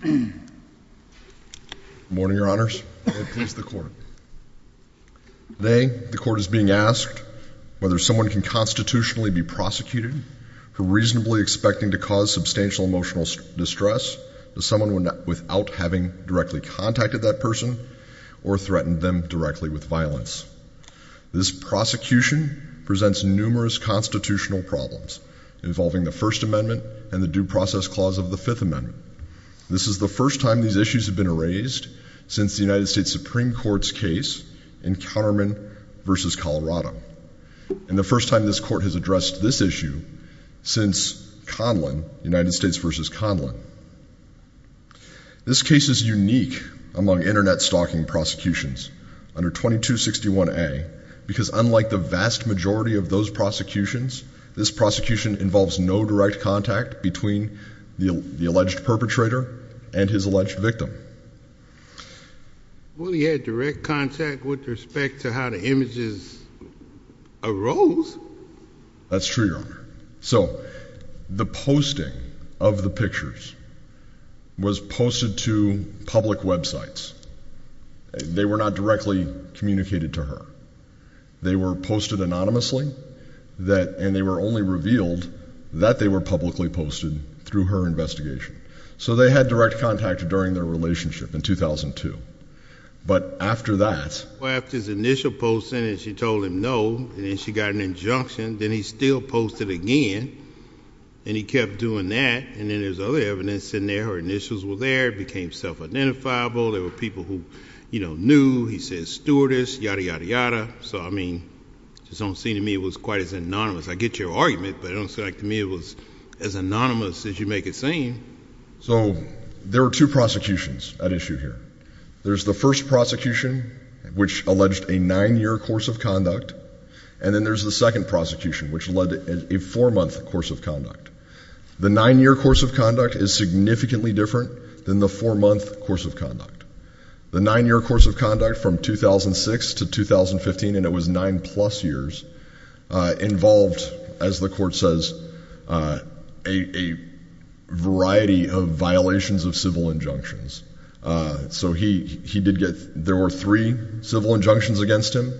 Good morning, your honors. May it please the court. Today, the court is being asked whether someone can constitutionally be prosecuted for reasonably expecting to cause substantial emotional distress to someone without having directly contacted that person or threatened them directly with violence. This prosecution presents numerous constitutional problems involving the First Amendment and the Due Process Clause of the Fifth Amendment. This is the first time these issues have been raised since the United States Supreme Court's case in Counterman v. Colorado, and the first time this court has addressed this issue since Conlon, United States v. Conlon. This case is unique among internet stalking prosecutions under 2261A, because unlike the vast majority of those prosecutions, this prosecution involves no direct contact between the alleged perpetrator and his alleged victim. Well, he had direct contact with respect to how the images arose. That's true, your honor. So, the posting of the pictures was posted to public websites. They were not directly communicated to her. They were posted anonymously, and they were only revealed that they were publicly posted through her investigation. So, they had direct contact during their relationship in 2002. But after that... Well, after his initial posting and she told him no, and then she got an injunction, then he still posted again, and he kept doing that, and then there's other evidence in there. Her initials were there. It became self-identifiable. There were people who, you know, knew. He said stewardess, yada, yada, yada. So, I mean, it just don't seem to me it was quite as anonymous. I get your argument, but it don't seem like to me it was as anonymous as you make it seem. So, there are two prosecutions at issue here. There's the first prosecution, which alleged a nine-year course of conduct, and then there's the second prosecution, which led to a four-month course of conduct. The nine-year course of conduct is significantly different than the four-month course of conduct. The nine-year course of conduct from 2006 to 2015, and it was nine-plus years, involved, as the court says, a variety of violations of civil injunctions. So, he did get, there were three civil injunctions against him.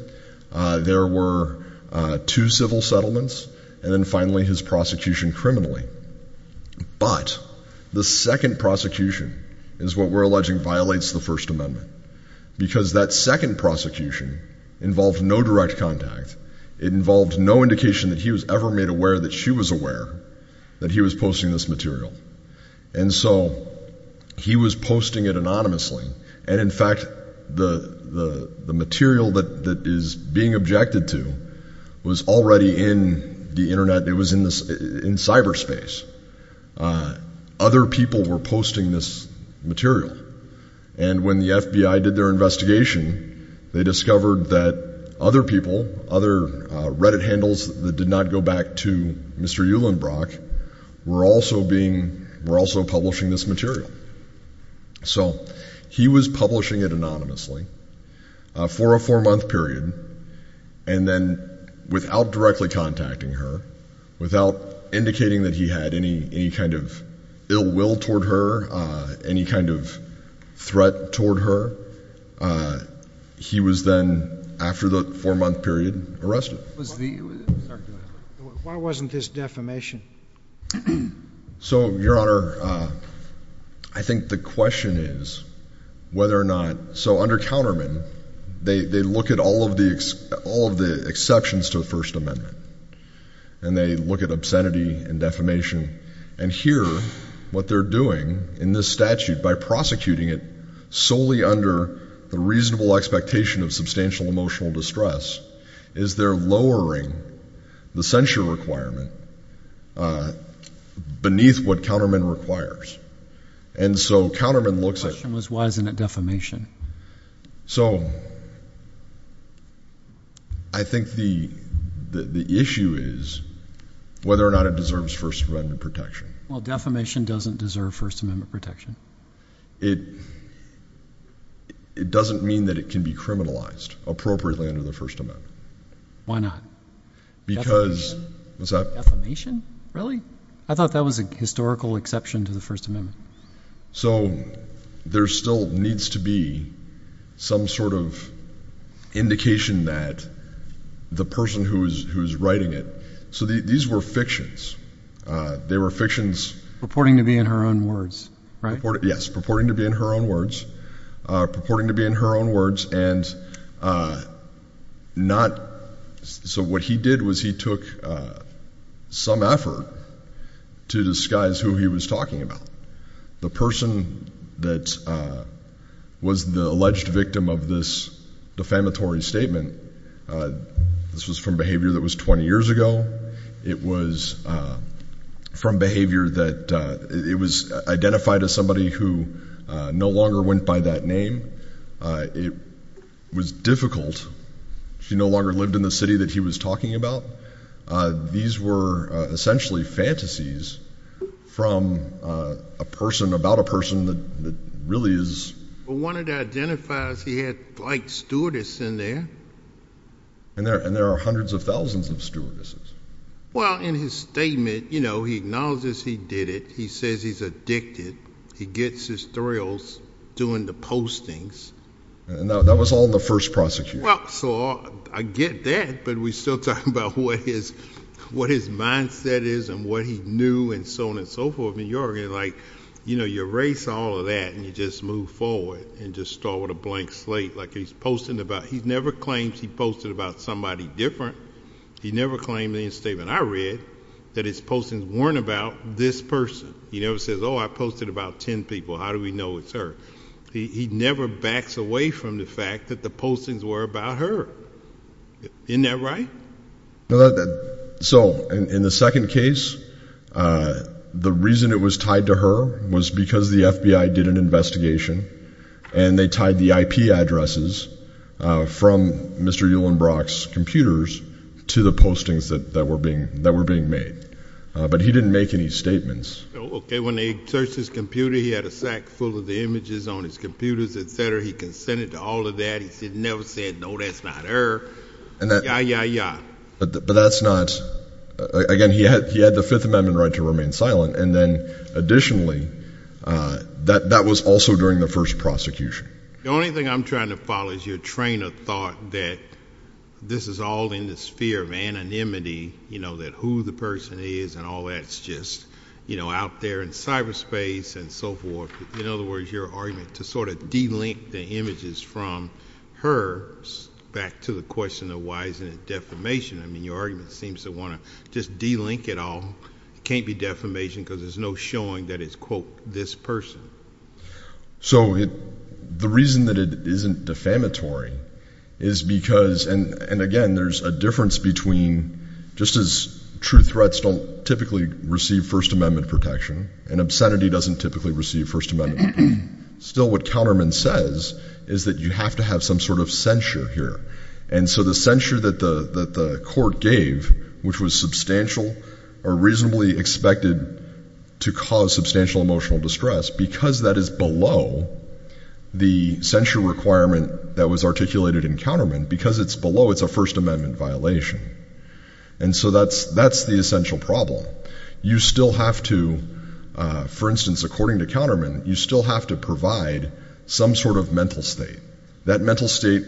There were two civil settlements, and then finally his prosecution criminally. But the second prosecution is what we're alleging violates the First Amendment, because that second prosecution involved no direct contact. It involved no indication that he was ever made aware that she was aware that he was posting this material. And so, he was posting it anonymously, and in fact, the material that is being objected to was already in the Internet, it was in cyberspace. Other people were posting this material, and when the FBI did their investigation, they discovered that other people, other Reddit handles that did not go back to Mr. Uhlenbrock, were also publishing this material. So, he was publishing it anonymously for a four-month period, and then without directly contacting her, without indicating that he had any kind of ill will toward her, any kind of threat toward her, he was then, after the four-month period, arrested. Why wasn't this defamation? So, Your Honor, I think the question is whether or not, so under counterman, they look at all of the exceptions to the First Amendment, and they look at obscenity and defamation, and here, what they're doing, in this statute, by prosecuting it solely under the reasonable expectation of substantial emotional distress, is they're lowering the censure requirement beneath what counterman requires. And so, counterman looks at... The question was, why isn't it defamation? So, I think the issue is whether or not it deserves First Amendment protection. Well, defamation doesn't deserve First Amendment protection. It doesn't mean that it can be criminalized appropriately under the First Amendment. Why not? Because... Defamation? Really? I thought that was a historical exception to the First Amendment. So, there still needs to be some sort of indication that the person who's writing it... So these were fictions. They were fictions... Purporting to be in her own words, right? Yes, purporting to be in her own words, purporting to be in her own words, and not... So what he did was he took some effort to disguise who he was talking about. The person that was the alleged victim of this defamatory statement... This was from behavior that was 20 years ago. It was from behavior that... It was identified as somebody who no longer went by that name. It was difficult. She no longer lived in the city that he was talking about. These were essentially fantasies from a person, about a person that really is... But one of the identifiers, he had flight stewardess in there. And there are hundreds of thousands of stewardesses. Well, in his statement, you know, he acknowledges he did it. He says he's addicted. He gets his thrills doing the postings. And that was all in the first prosecution. Well, so I get that, but we're still talking about what his mindset is and what he knew and so on and so forth. I mean, you're like, you know, you erase all of that and you just move forward and just start with a blank slate. Like he's posting about... He never claims he posted about somebody different. He never claimed any statement. I read that his postings weren't about this person. He never says, oh, I posted about 10 people. How do we know it's her? He never backs away from the fact that the postings were about her. Isn't that right? So in the second case, the reason it was tied to her was because the FBI did an investigation and they tied the IP addresses from Mr. Uhlenbrock's computers to the postings that were being made. But he didn't make any statements. Okay, when they searched his computer, he had a sack full of the images on his computers, et cetera. He consented to all of that. He never said, no, that's not her. Yeah, yeah, yeah. But that's not... Again, he had the Fifth Amendment right to remain silent. And then additionally, that was also during the first prosecution. The only thing I'm trying to follow is your train of thought that this is all in the sphere of anonymity, you know, that who the person is and all that. It's just, you know, out there in cyberspace and so forth. In other words, your argument to sort of de-link the images from her back to the question of why isn't it defamation. I mean, your argument seems to want to just de-link it all. It can't be defamation because there's no showing that it's, quote, this person. So the reason that it isn't defamatory is because, and again, there's a difference between just as true threats don't typically receive First Amendment protection and obscenity doesn't typically receive First Amendment protection. Still, what Counterman says is that you have to have some sort of censure here. And so the censure that the court gave, which was substantial or reasonably expected to cause substantial emotional distress, because that is below the censure requirement that was articulated in Counterman, because it's below, it's a First Amendment violation. And so that's the essential problem. You still have to, for instance, according to Counterman, you still have to provide some sort of mental state. That mental state,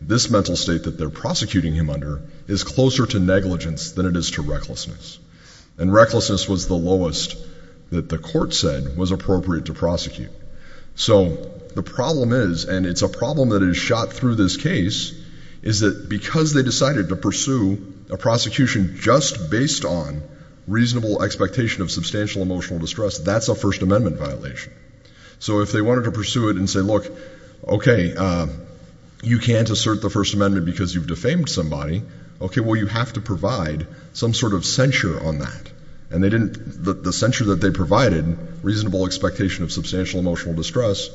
this mental state that they're prosecuting him under is closer to negligence than it is to recklessness. And recklessness was the lowest that the court said was appropriate to prosecute. So the problem is, and it's a problem that is shot through this case, is that because they decided to pursue a prosecution just based on reasonable expectation of substantial emotional distress, that's a First Amendment violation. So if they wanted to pursue it and say, look, okay, you can't assert the First Amendment because you've defamed somebody. Okay, well, you have to provide some sort of censure on that. And they didn't, the censure that they provided, reasonable expectation of substantial emotional distress,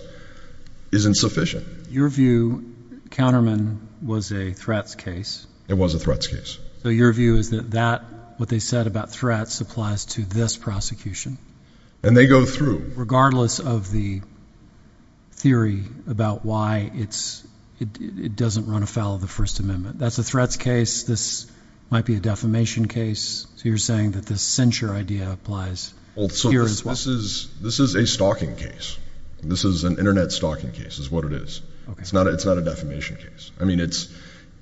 is insufficient. Your view, Counterman was a threats case. It was a threats case. So your view is that that, what they said about threats, applies to this prosecution. And they go through. Regardless of the theory about why it doesn't run afoul of the First Amendment. That's a threats case. This might be a defamation case. So you're saying that this censure idea applies here as well. This is a stalking case. This is an internet stalking case, is what it is. It's not a defamation case. I mean, it's,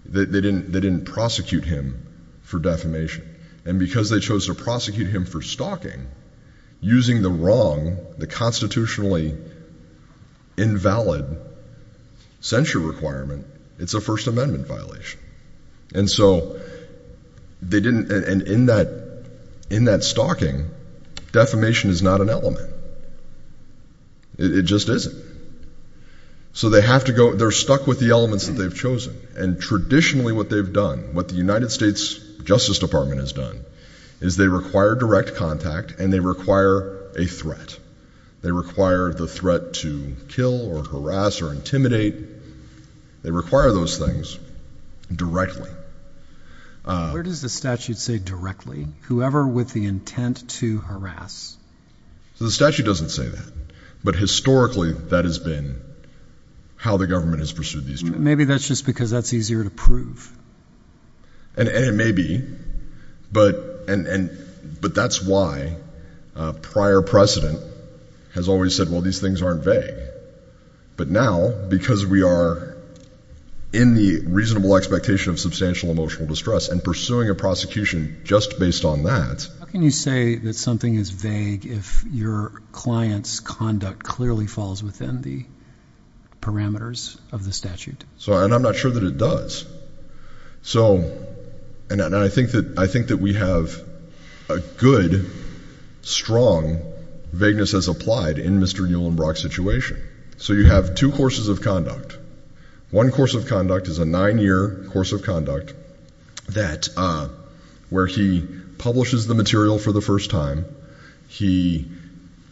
they didn't prosecute him for defamation. And because they chose to prosecute him for stalking, using the wrong, the constitutionally invalid censure requirement, it's a First Amendment violation. And so they didn't, and in that, in that stalking, defamation is not an element. It just isn't. So they have to go, they're stuck with the elements that they've chosen. And traditionally what they've done, what the United States Justice Department has done, is they require direct contact and they require a threat. They require the threat to kill or harass or intimidate. They require those things directly. Where does the statute say directly? Whoever with the intent to harass. So the statute doesn't say that. But historically, that has been how the government has pursued these. Maybe that's just because that's easier to prove. And it may be. But, and, and, but that's why prior precedent has always said, well, these things aren't vague. But now, because we are in the reasonable expectation of substantial emotional distress and pursuing a prosecution just based on that. How can you say that something is vague if your client's conduct clearly falls within the parameters of the statute? So, and I'm not sure that it does. So, and I think that, I think that we have a good, strong vagueness as applied in Mr. Nuland Brock's situation. So you have two courses of conduct. One course of conduct is a nine year course of conduct that, where he publishes the material for the first time. He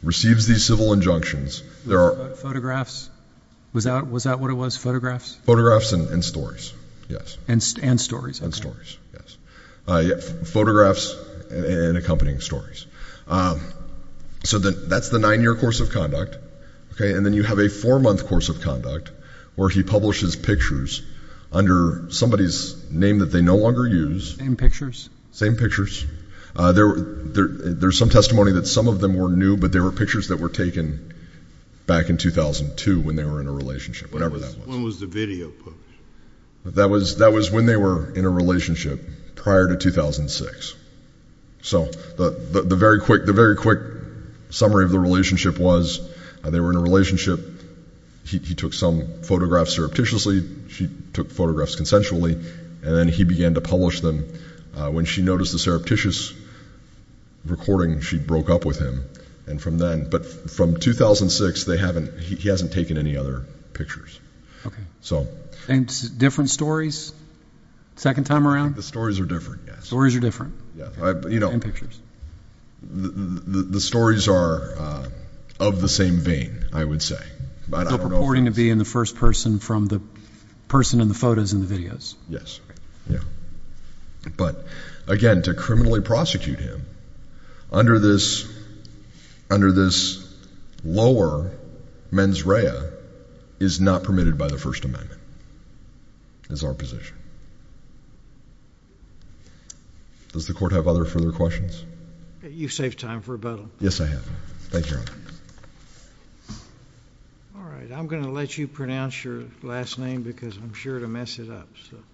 receives these civil injunctions. There are- Photographs? Was that what it was? Photographs? Photographs and stories, yes. And stories, okay. And stories, yes. Photographs and accompanying stories. So that's the nine year course of conduct, okay. And then you have a four month course of conduct where he publishes pictures under somebody's name that they no longer use. Same pictures? Same pictures. There's some testimony that some of them were new, but there were pictures that were taken back in 2002 when they were in a relationship, whatever that was. When was the video published? That was when they were in a relationship, prior to 2006. So the very quick summary of the relationship was, they were in a relationship. He took some photographs surreptitiously. She took photographs consensually. And then he began to publish them. When she noticed the surreptitious recording, she broke up with him. And from then, but from 2006, he hasn't taken any other pictures. Okay. And different stories? Second time around? The stories are different, yes. Stories are different? Yeah, but you know- And pictures? The stories are of the same vein, I would say. But I don't know if that's- Still purporting to be in the first person from the person in the photos and the videos. Yes. Yeah. But again, to criminally prosecute him under this lower mens rea is not permitted by the First Amendment. It's our position. Does the court have other further questions? You've saved time for rebuttal. Yes, I have. Thank you, Your Honor. All right, I'm going to let you pronounce your last name because I'm sure it'll mess it up.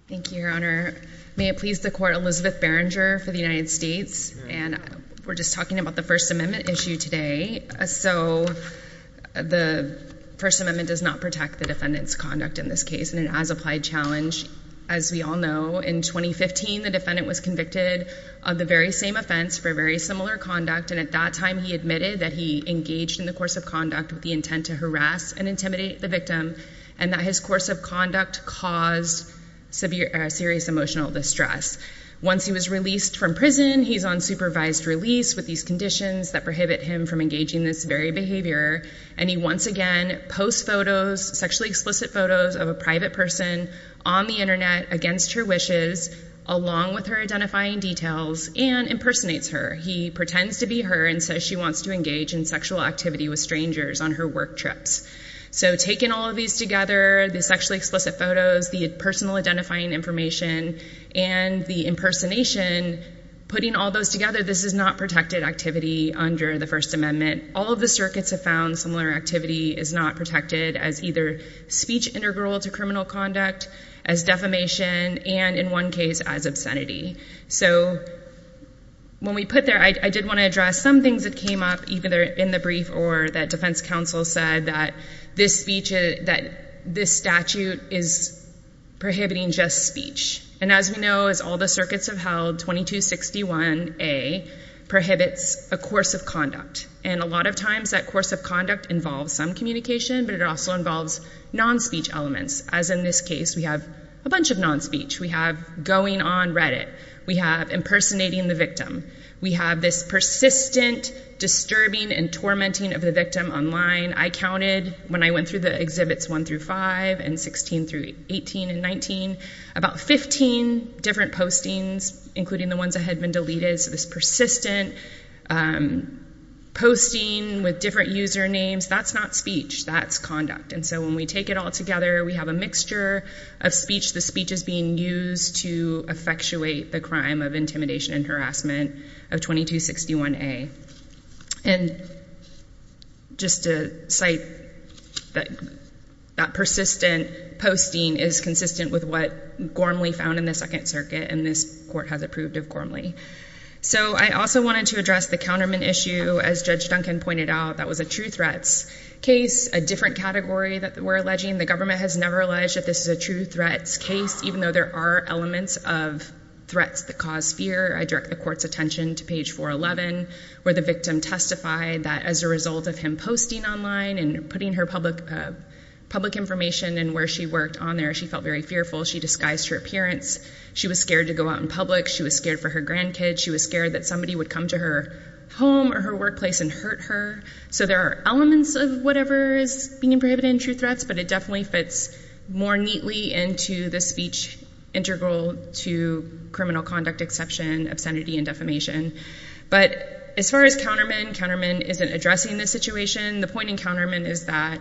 Thank you, Your Honor. May it please the court, Elizabeth Berenger for the United States. And we're just talking about the First Amendment issue today. So the First Amendment does not protect the defendant's conduct in this case, and it has applied challenge. As we all know, in 2015, the defendant was convicted of the very same offense for very similar conduct. And at that time, he admitted that he engaged in the course of conduct with the intent to harass and intimidate the victim. And that his course of conduct caused serious emotional distress. Once he was released from prison, he's on supervised release with these conditions that prohibit him from engaging this very behavior. And he once again posts photos, sexually explicit photos of a private person on the Internet against her wishes. Along with her identifying details and impersonates her. He pretends to be her and says she wants to engage in sexual activity with strangers on her work trips. So taking all of these together, the sexually explicit photos, the personal identifying information, and the impersonation, putting all those together, this is not protected activity under the First Amendment. All of the circuits have found similar activity is not protected as either speech integral to criminal conduct, as defamation, and in one case, as obscenity. So when we put there, I did want to address some things that came up, either in the brief or that defense counsel said that this statute is prohibiting just speech. And as we know, as all the circuits have held, 2261A prohibits a course of conduct. And a lot of times, that course of conduct involves some communication, but it also involves non-speech elements. As in this case, we have a bunch of non-speech. We have going on Reddit. We have impersonating the victim. We have this persistent disturbing and tormenting of the victim online. I counted, when I went through the exhibits one through five, and 16 through 18 and 19, about 15 different postings, including the ones that had been deleted. So this persistent posting with different usernames, that's not speech, that's conduct. And so when we take it all together, we have a mixture of speech. The speech is being used to effectuate the crime of intimidation and harassment of 2261A. And just to cite that persistent posting is consistent with what Gormley found in the Second Circuit, and this court has approved of Gormley. So I also wanted to address the counterman issue. As Judge Duncan pointed out, that was a true threats case, a different category that we're alleging. The government has never alleged that this is a true threats case, even though there are elements of threats that cause fear. I direct the court's attention to page 411, where the victim testified that as a result of him posting online and putting her public information and where she worked on there, she felt very fearful. She disguised her appearance. She was scared to go out in public. She was scared for her grandkids. She was scared that somebody would come to her home or her workplace and hurt her. So there are elements of whatever is being prohibited in true threats, but it definitely fits more neatly into the speech integral to criminal conduct exception, obscenity, and defamation. But as far as countermen, countermen isn't addressing this situation. The point in countermen is that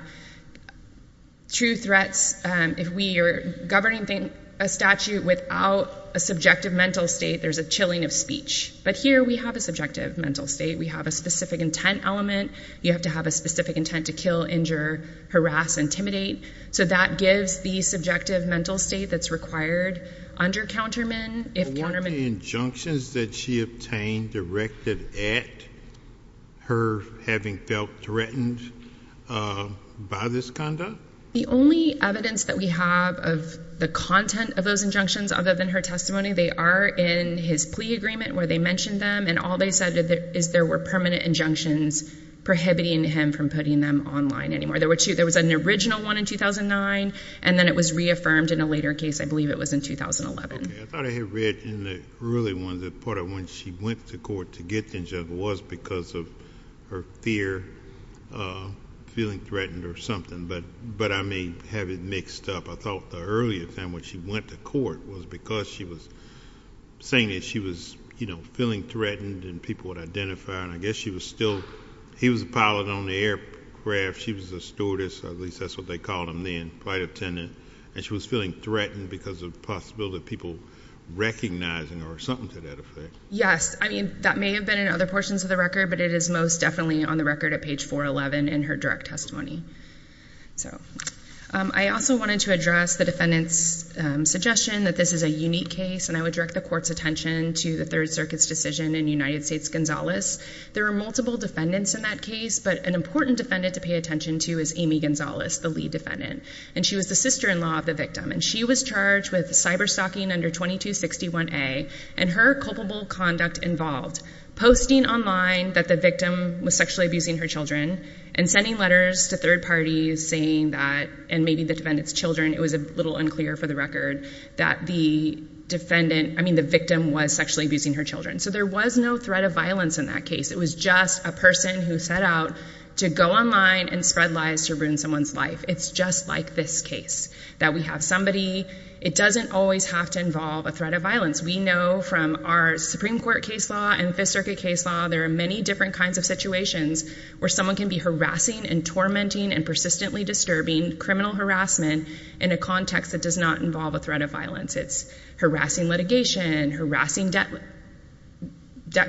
true threats, if we are governing a statute without a subjective mental state, there's a chilling of speech. But here we have a subjective mental state. We have a specific intent element. You have to have a specific intent to kill, injure, harass, intimidate. So that gives the subjective mental state that's required under countermen. If countermen- The injunctions that she obtained directed at her having felt threatened by this conduct? The only evidence that we have of the content of those injunctions other than her testimony, they are in his plea agreement where they mentioned them. And all they said is there were permanent injunctions prohibiting him from putting them online anymore. There was an original one in 2009, and then it was reaffirmed in a later case. I believe it was in 2011. Okay, I thought I had read in the early one that part of when she went to court to get the injunction was because of her fear, feeling threatened or something. But I may have it mixed up. I thought the earlier time when she went to court was because she was saying that she was feeling threatened and people would identify her. And I guess she was still, he was a pilot on the aircraft. She was a stewardess, at least that's what they called him then, flight attendant. And she was feeling threatened because of the possibility of people recognizing her or something to that effect. Yes, I mean, that may have been in other portions of the record, but it is most definitely on the record at page 411 in her direct testimony. So, I also wanted to address the defendant's suggestion that this is a unique case, and I would direct the court's attention to the Third Circuit's decision in United States-Gonzalez. There were multiple defendants in that case, but an important defendant to pay attention to is Amy Gonzalez, the lead defendant. And she was the sister-in-law of the victim, and she was charged with cyber-stalking under 2261A and her culpable conduct involved. Posting online that the victim was sexually abusing her children and sending letters to third parties saying that, and maybe the defendant's children, it was a little unclear for the record that the victim was sexually abusing her children. So, there was no threat of violence in that case. It was just a person who set out to go online and spread lies to ruin someone's life. It's just like this case, that we have somebody. It doesn't always have to involve a threat of violence. We know from our Supreme Court case law and Fifth Circuit case law, there are many different kinds of situations where someone can be harassing and tormenting and persistently disturbing criminal harassment in a context that does not involve a threat of violence. It's harassing litigation, harassing debt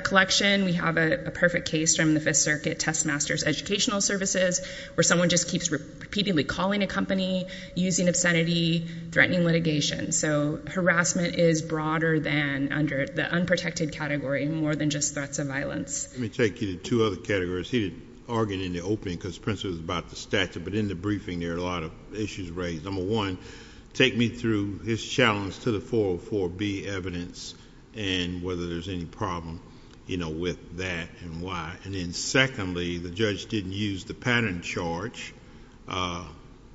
collection. We have a perfect case from the Fifth Circuit Test Master's Educational Services, where someone just keeps repeatedly calling a company, using obscenity, threatening litigation. So, harassment is broader than under the unprotected category and more than just threats of violence. Let me take you to two other categories. He did argue in the opening because Prince was about the statute, but in the briefing there are a lot of issues raised. Number one, take me through his challenge to the 404B evidence and whether there's any problem with that and why. And then secondly, the judge didn't use the pattern charge,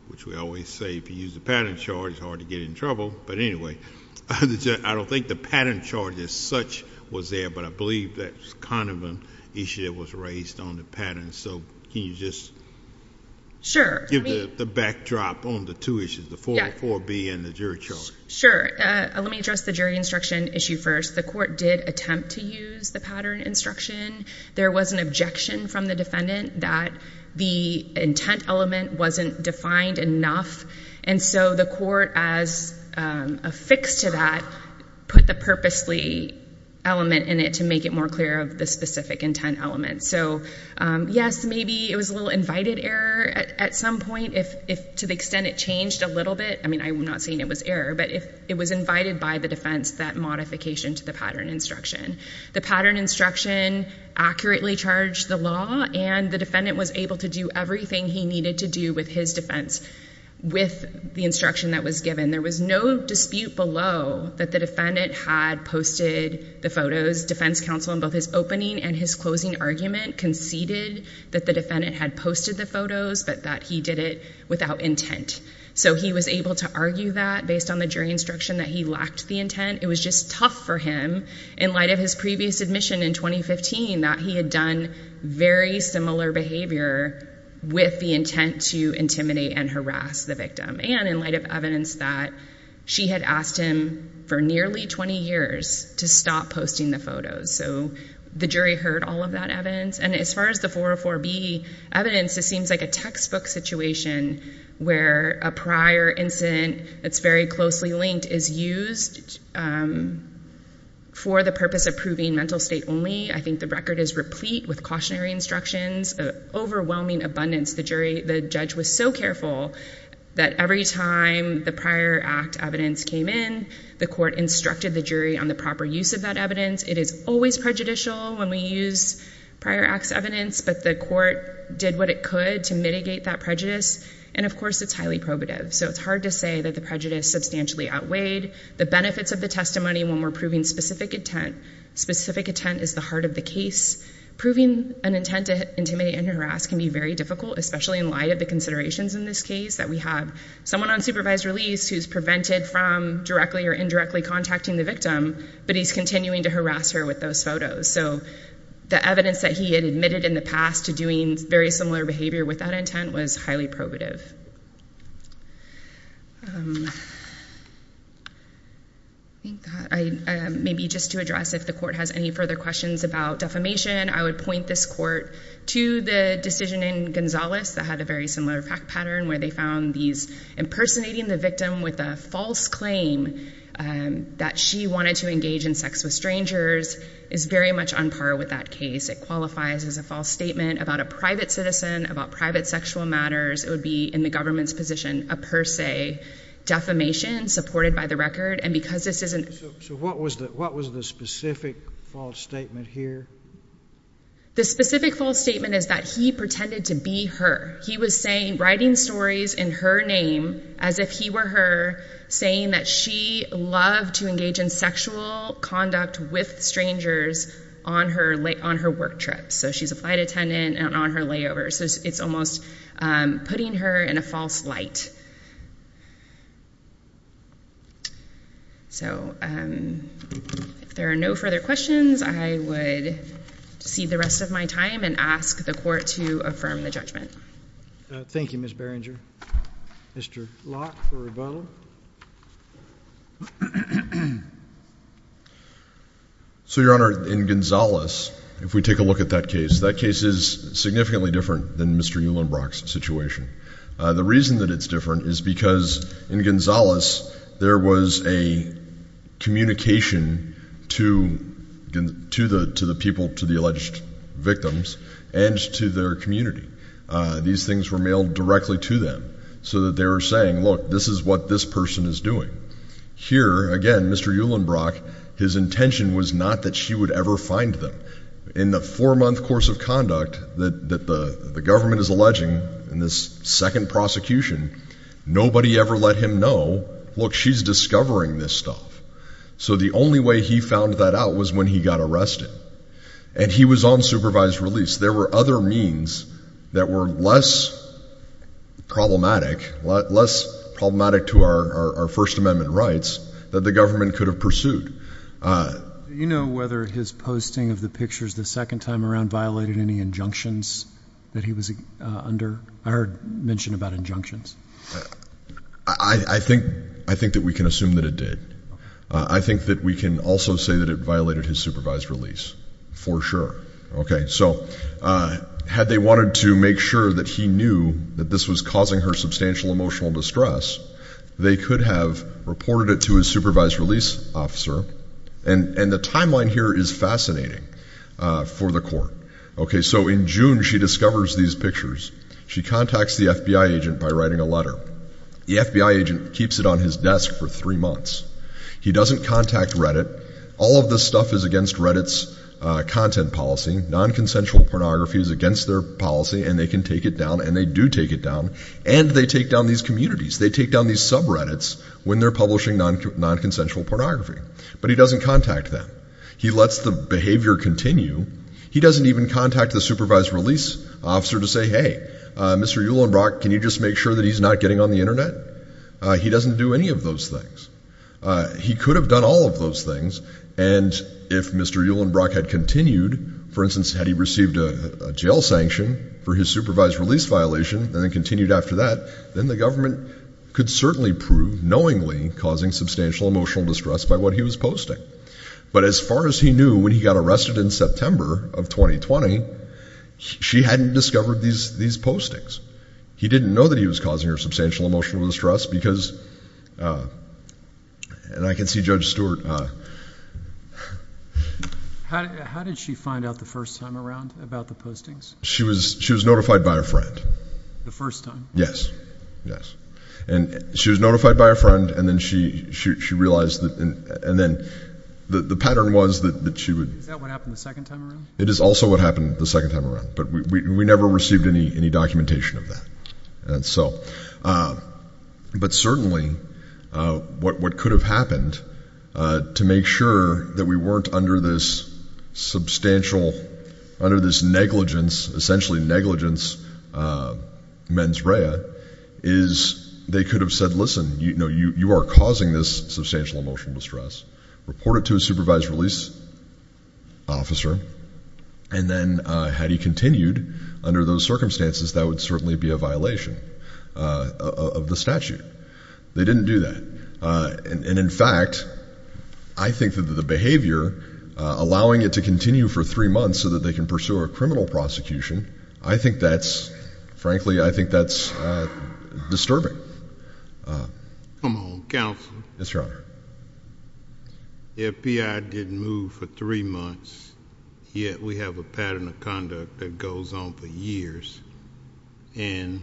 which we always say if you use the pattern charge, it's hard to get in trouble. But anyway, I don't think the pattern charge as such was there, but I believe that's kind of an issue that was raised on the pattern. So, can you just give the backdrop on the two issues, the 404B and the jury charge? Sure, let me address the jury instruction issue first. The court did attempt to use the pattern instruction. There was an objection from the defendant that the intent element wasn't defined enough. And so the court, as affixed to that, put the purposely element in it to make it more clear of the specific intent element. So, yes, maybe it was a little invited error at some point, if to the extent it changed a little bit. I mean, I'm not saying it was error, but if it was invited by the defense, that modification to the pattern instruction. The pattern instruction accurately charged the law, and the defendant was able to do everything he needed to do with his defense with the instruction that was given. There was no dispute below that the defendant had posted the photos. Defense counsel, in both his opening and his closing argument, conceded that the defendant had posted the photos, but that he did it without intent. So he was able to argue that, based on the jury instruction, that he lacked the intent. It was just tough for him, in light of his previous admission in 2015, that he had done very similar behavior with the intent to intimidate and harass the victim. And in light of evidence that she had asked him for nearly 20 years to stop posting the photos. So the jury heard all of that evidence. And as far as the 404B evidence, it seems like a textbook situation where a prior incident that's very closely linked is used for the purpose of proving mental state only. I think the record is replete with cautionary instructions, an overwhelming abundance. The judge was so careful that every time the prior act evidence came in, the court instructed the jury on the proper use of that evidence. It is always prejudicial when we use prior acts evidence, but the court did what it could to mitigate that prejudice, and of course, it's highly probative. So it's hard to say that the prejudice substantially outweighed the benefits of the testimony when we're proving specific intent. Specific intent is the heart of the case. Proving an intent to intimidate and harass can be very difficult, especially in light of the considerations in this case that we have. Someone on supervised release who's prevented from directly or indirectly contacting the victim, but he's continuing to harass her with those photos. So the evidence that he had admitted in the past to doing very similar behavior with that intent was highly probative. Maybe just to address if the court has any further questions about defamation, I would point this court to the decision in Gonzales that had a very similar fact pattern, where they found these impersonating the victim with a false claim that she wanted to engage in sex with strangers is very much on par with that case. It qualifies as a false statement about a private citizen, about private sexual matters. It would be, in the government's position, a per se defamation supported by the record. And because this is an- So what was the specific false statement here? The specific false statement is that he pretended to be her. He was saying, writing stories in her name as if he were her, saying that she loved to engage in sexual conduct with strangers on her work trip. So she's a flight attendant and on her layover. So it's almost putting her in a false light. So if there are no further questions, I would cede the rest of my time and ask the court to affirm the judgment. Thank you, Ms. Berenger. Mr. Locke for rebuttal. So, your honor, in Gonzales, if we take a look at that case, that case is significantly different than Mr. Uhlenbrock's situation. The reason that it's different is because in Gonzales, there was a communication to the people, to the alleged victims, and to their community. These things were mailed directly to them so that they were saying, look, this is what this person is doing. Here, again, Mr. Uhlenbrock, his intention was not that she would ever find them. In the four month course of conduct that the government is alleging in this second prosecution, nobody ever let him know, look, she's discovering this stuff. So the only way he found that out was when he got arrested. And he was on supervised release. There were other means that were less problematic, less problematic to our First Amendment rights, that the government could have pursued. You know whether his posting of the pictures the second time around violated any injunctions that he was under? I heard mention about injunctions. I think that we can assume that it did. I think that we can also say that it violated his supervised release, for sure. Okay, so had they wanted to make sure that he knew that this was causing her substantial emotional distress, they could have reported it to his supervised release officer. And the timeline here is fascinating for the court. Okay, so in June, she discovers these pictures. She contacts the FBI agent by writing a letter. The FBI agent keeps it on his desk for three months. He doesn't contact Reddit. All of this stuff is against Reddit's content policy. Non-consensual pornography is against their policy, and they can take it down, and they do take it down. And they take down these communities. They take down these sub-Reddits when they're publishing non-consensual pornography. But he doesn't contact them. He lets the behavior continue. He doesn't even contact the supervised release officer to say, hey, Mr. Uhlenbrock, can you just make sure that he's not getting on the Internet? He doesn't do any of those things. He could have done all of those things. And if Mr. Uhlenbrock had continued, for instance, had he received a jail sanction for his supervised release violation and then continued after that, then the government could certainly prove knowingly causing substantial emotional distress by what he was posting. But as far as he knew, when he got arrested in September of 2020, she hadn't discovered these postings. He didn't know that he was causing her substantial emotional distress because, and I can see Judge Stewart. How did she find out the first time around about the postings? She was notified by a friend. The first time? Yes. Yes. And she was notified by a friend, and then she realized that, and then the pattern was that she would. Is that what happened the second time around? It is also what happened the second time around. But we never received any documentation of that. And so, but certainly what could have happened to make sure that we weren't under this substantial, under this negligence, essentially negligence mens rea, is they could have said, listen, you are causing this substantial emotional distress. Report it to a supervised release officer. And then had he continued under those circumstances, that would certainly be a violation of the statute. They didn't do that. And in fact, I think that the behavior, allowing it to continue for three months so that they can pursue a criminal prosecution, I think that's, frankly, I think that's disturbing. Come on, counsel. Yes, your honor. The FBI didn't move for three months, yet we have a pattern of conduct that goes on for years. And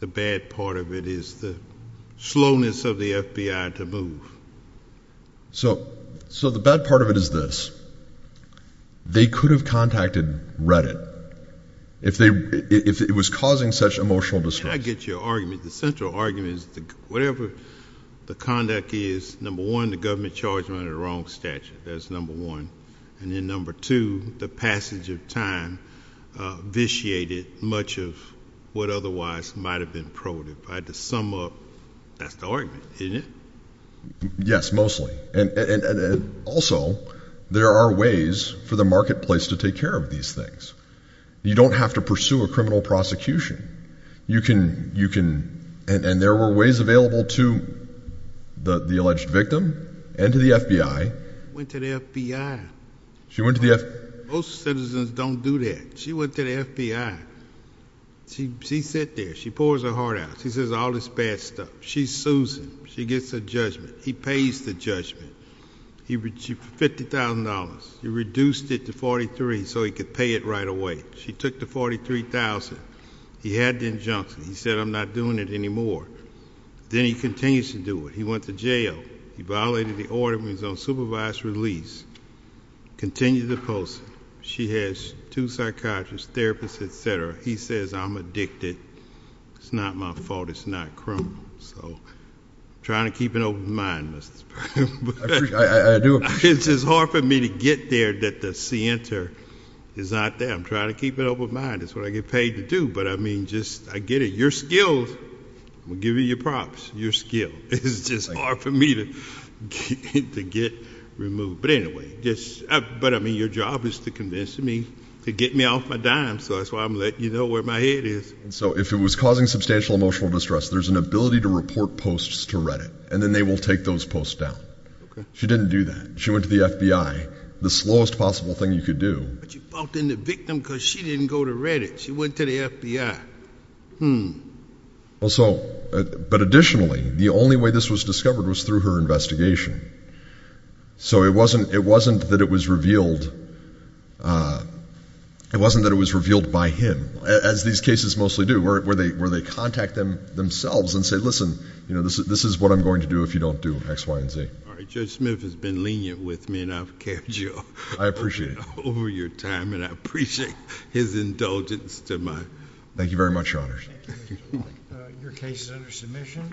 the bad part of it is the slowness of the FBI to move. So the bad part of it is this. They could have contacted Reddit if it was causing such emotional distress. Can I get your argument? The central argument is that whatever the conduct is, number one, the government charged them under the wrong statute, that's number one. And then number two, the passage of time vitiated much of what otherwise might have been probative. I had to sum up, that's the argument, isn't it? Yes, mostly. And also, there are ways for the marketplace to take care of these things. You don't have to pursue a criminal prosecution. You can, and there were ways available to the alleged victim and to the FBI. Went to the FBI. She went to the FBI. Most citizens don't do that. She went to the FBI. She sat there. She pours her heart out. She says all this bad stuff. She sues him. She gets a judgment. He pays the judgment. He, for $50,000, he reduced it to 43 so he could pay it right away. She took the 43,000. He had the injunction. He said I'm not doing it anymore. Then he continues to do it. He went to jail. He violated the order. He was on supervised release. Continued the post. She has two psychiatrists, therapists, etc. He says I'm addicted. It's not my fault. It's not criminal. So, trying to keep an open mind, Mr. Sprague. I do appreciate that. It's just hard for me to get there that the center is not there. I'm trying to keep an open mind. That's what I get paid to do. But, I mean, just, I get it. Your skills, I'm going to give you your props. Your skill. It's just hard for me to get removed. But, anyway, just, but, I mean, your job is to convince me to get me off my dime. So, that's why I'm letting you know where my head is. So, if it was causing substantial emotional distress, there's an ability to report posts to Reddit. And then they will take those posts down. She didn't do that. She went to the FBI. The slowest possible thing you could do. But you faulted the victim because she didn't go to Reddit. She went to the FBI. Well, so, but additionally, the only way this was discovered was through her investigation. So, it wasn't that it was revealed, it wasn't that it was revealed by him, as these cases mostly do, where they contact them themselves and say, listen, you know, this is what I'm going to do if you don't do X, Y, and Z. All right. Judge Smith has been lenient with me and I've kept you. I appreciate it. Over your time and I appreciate his indulgence to my. Thank you very much, Your Honors. Thank you. Your case is under submission.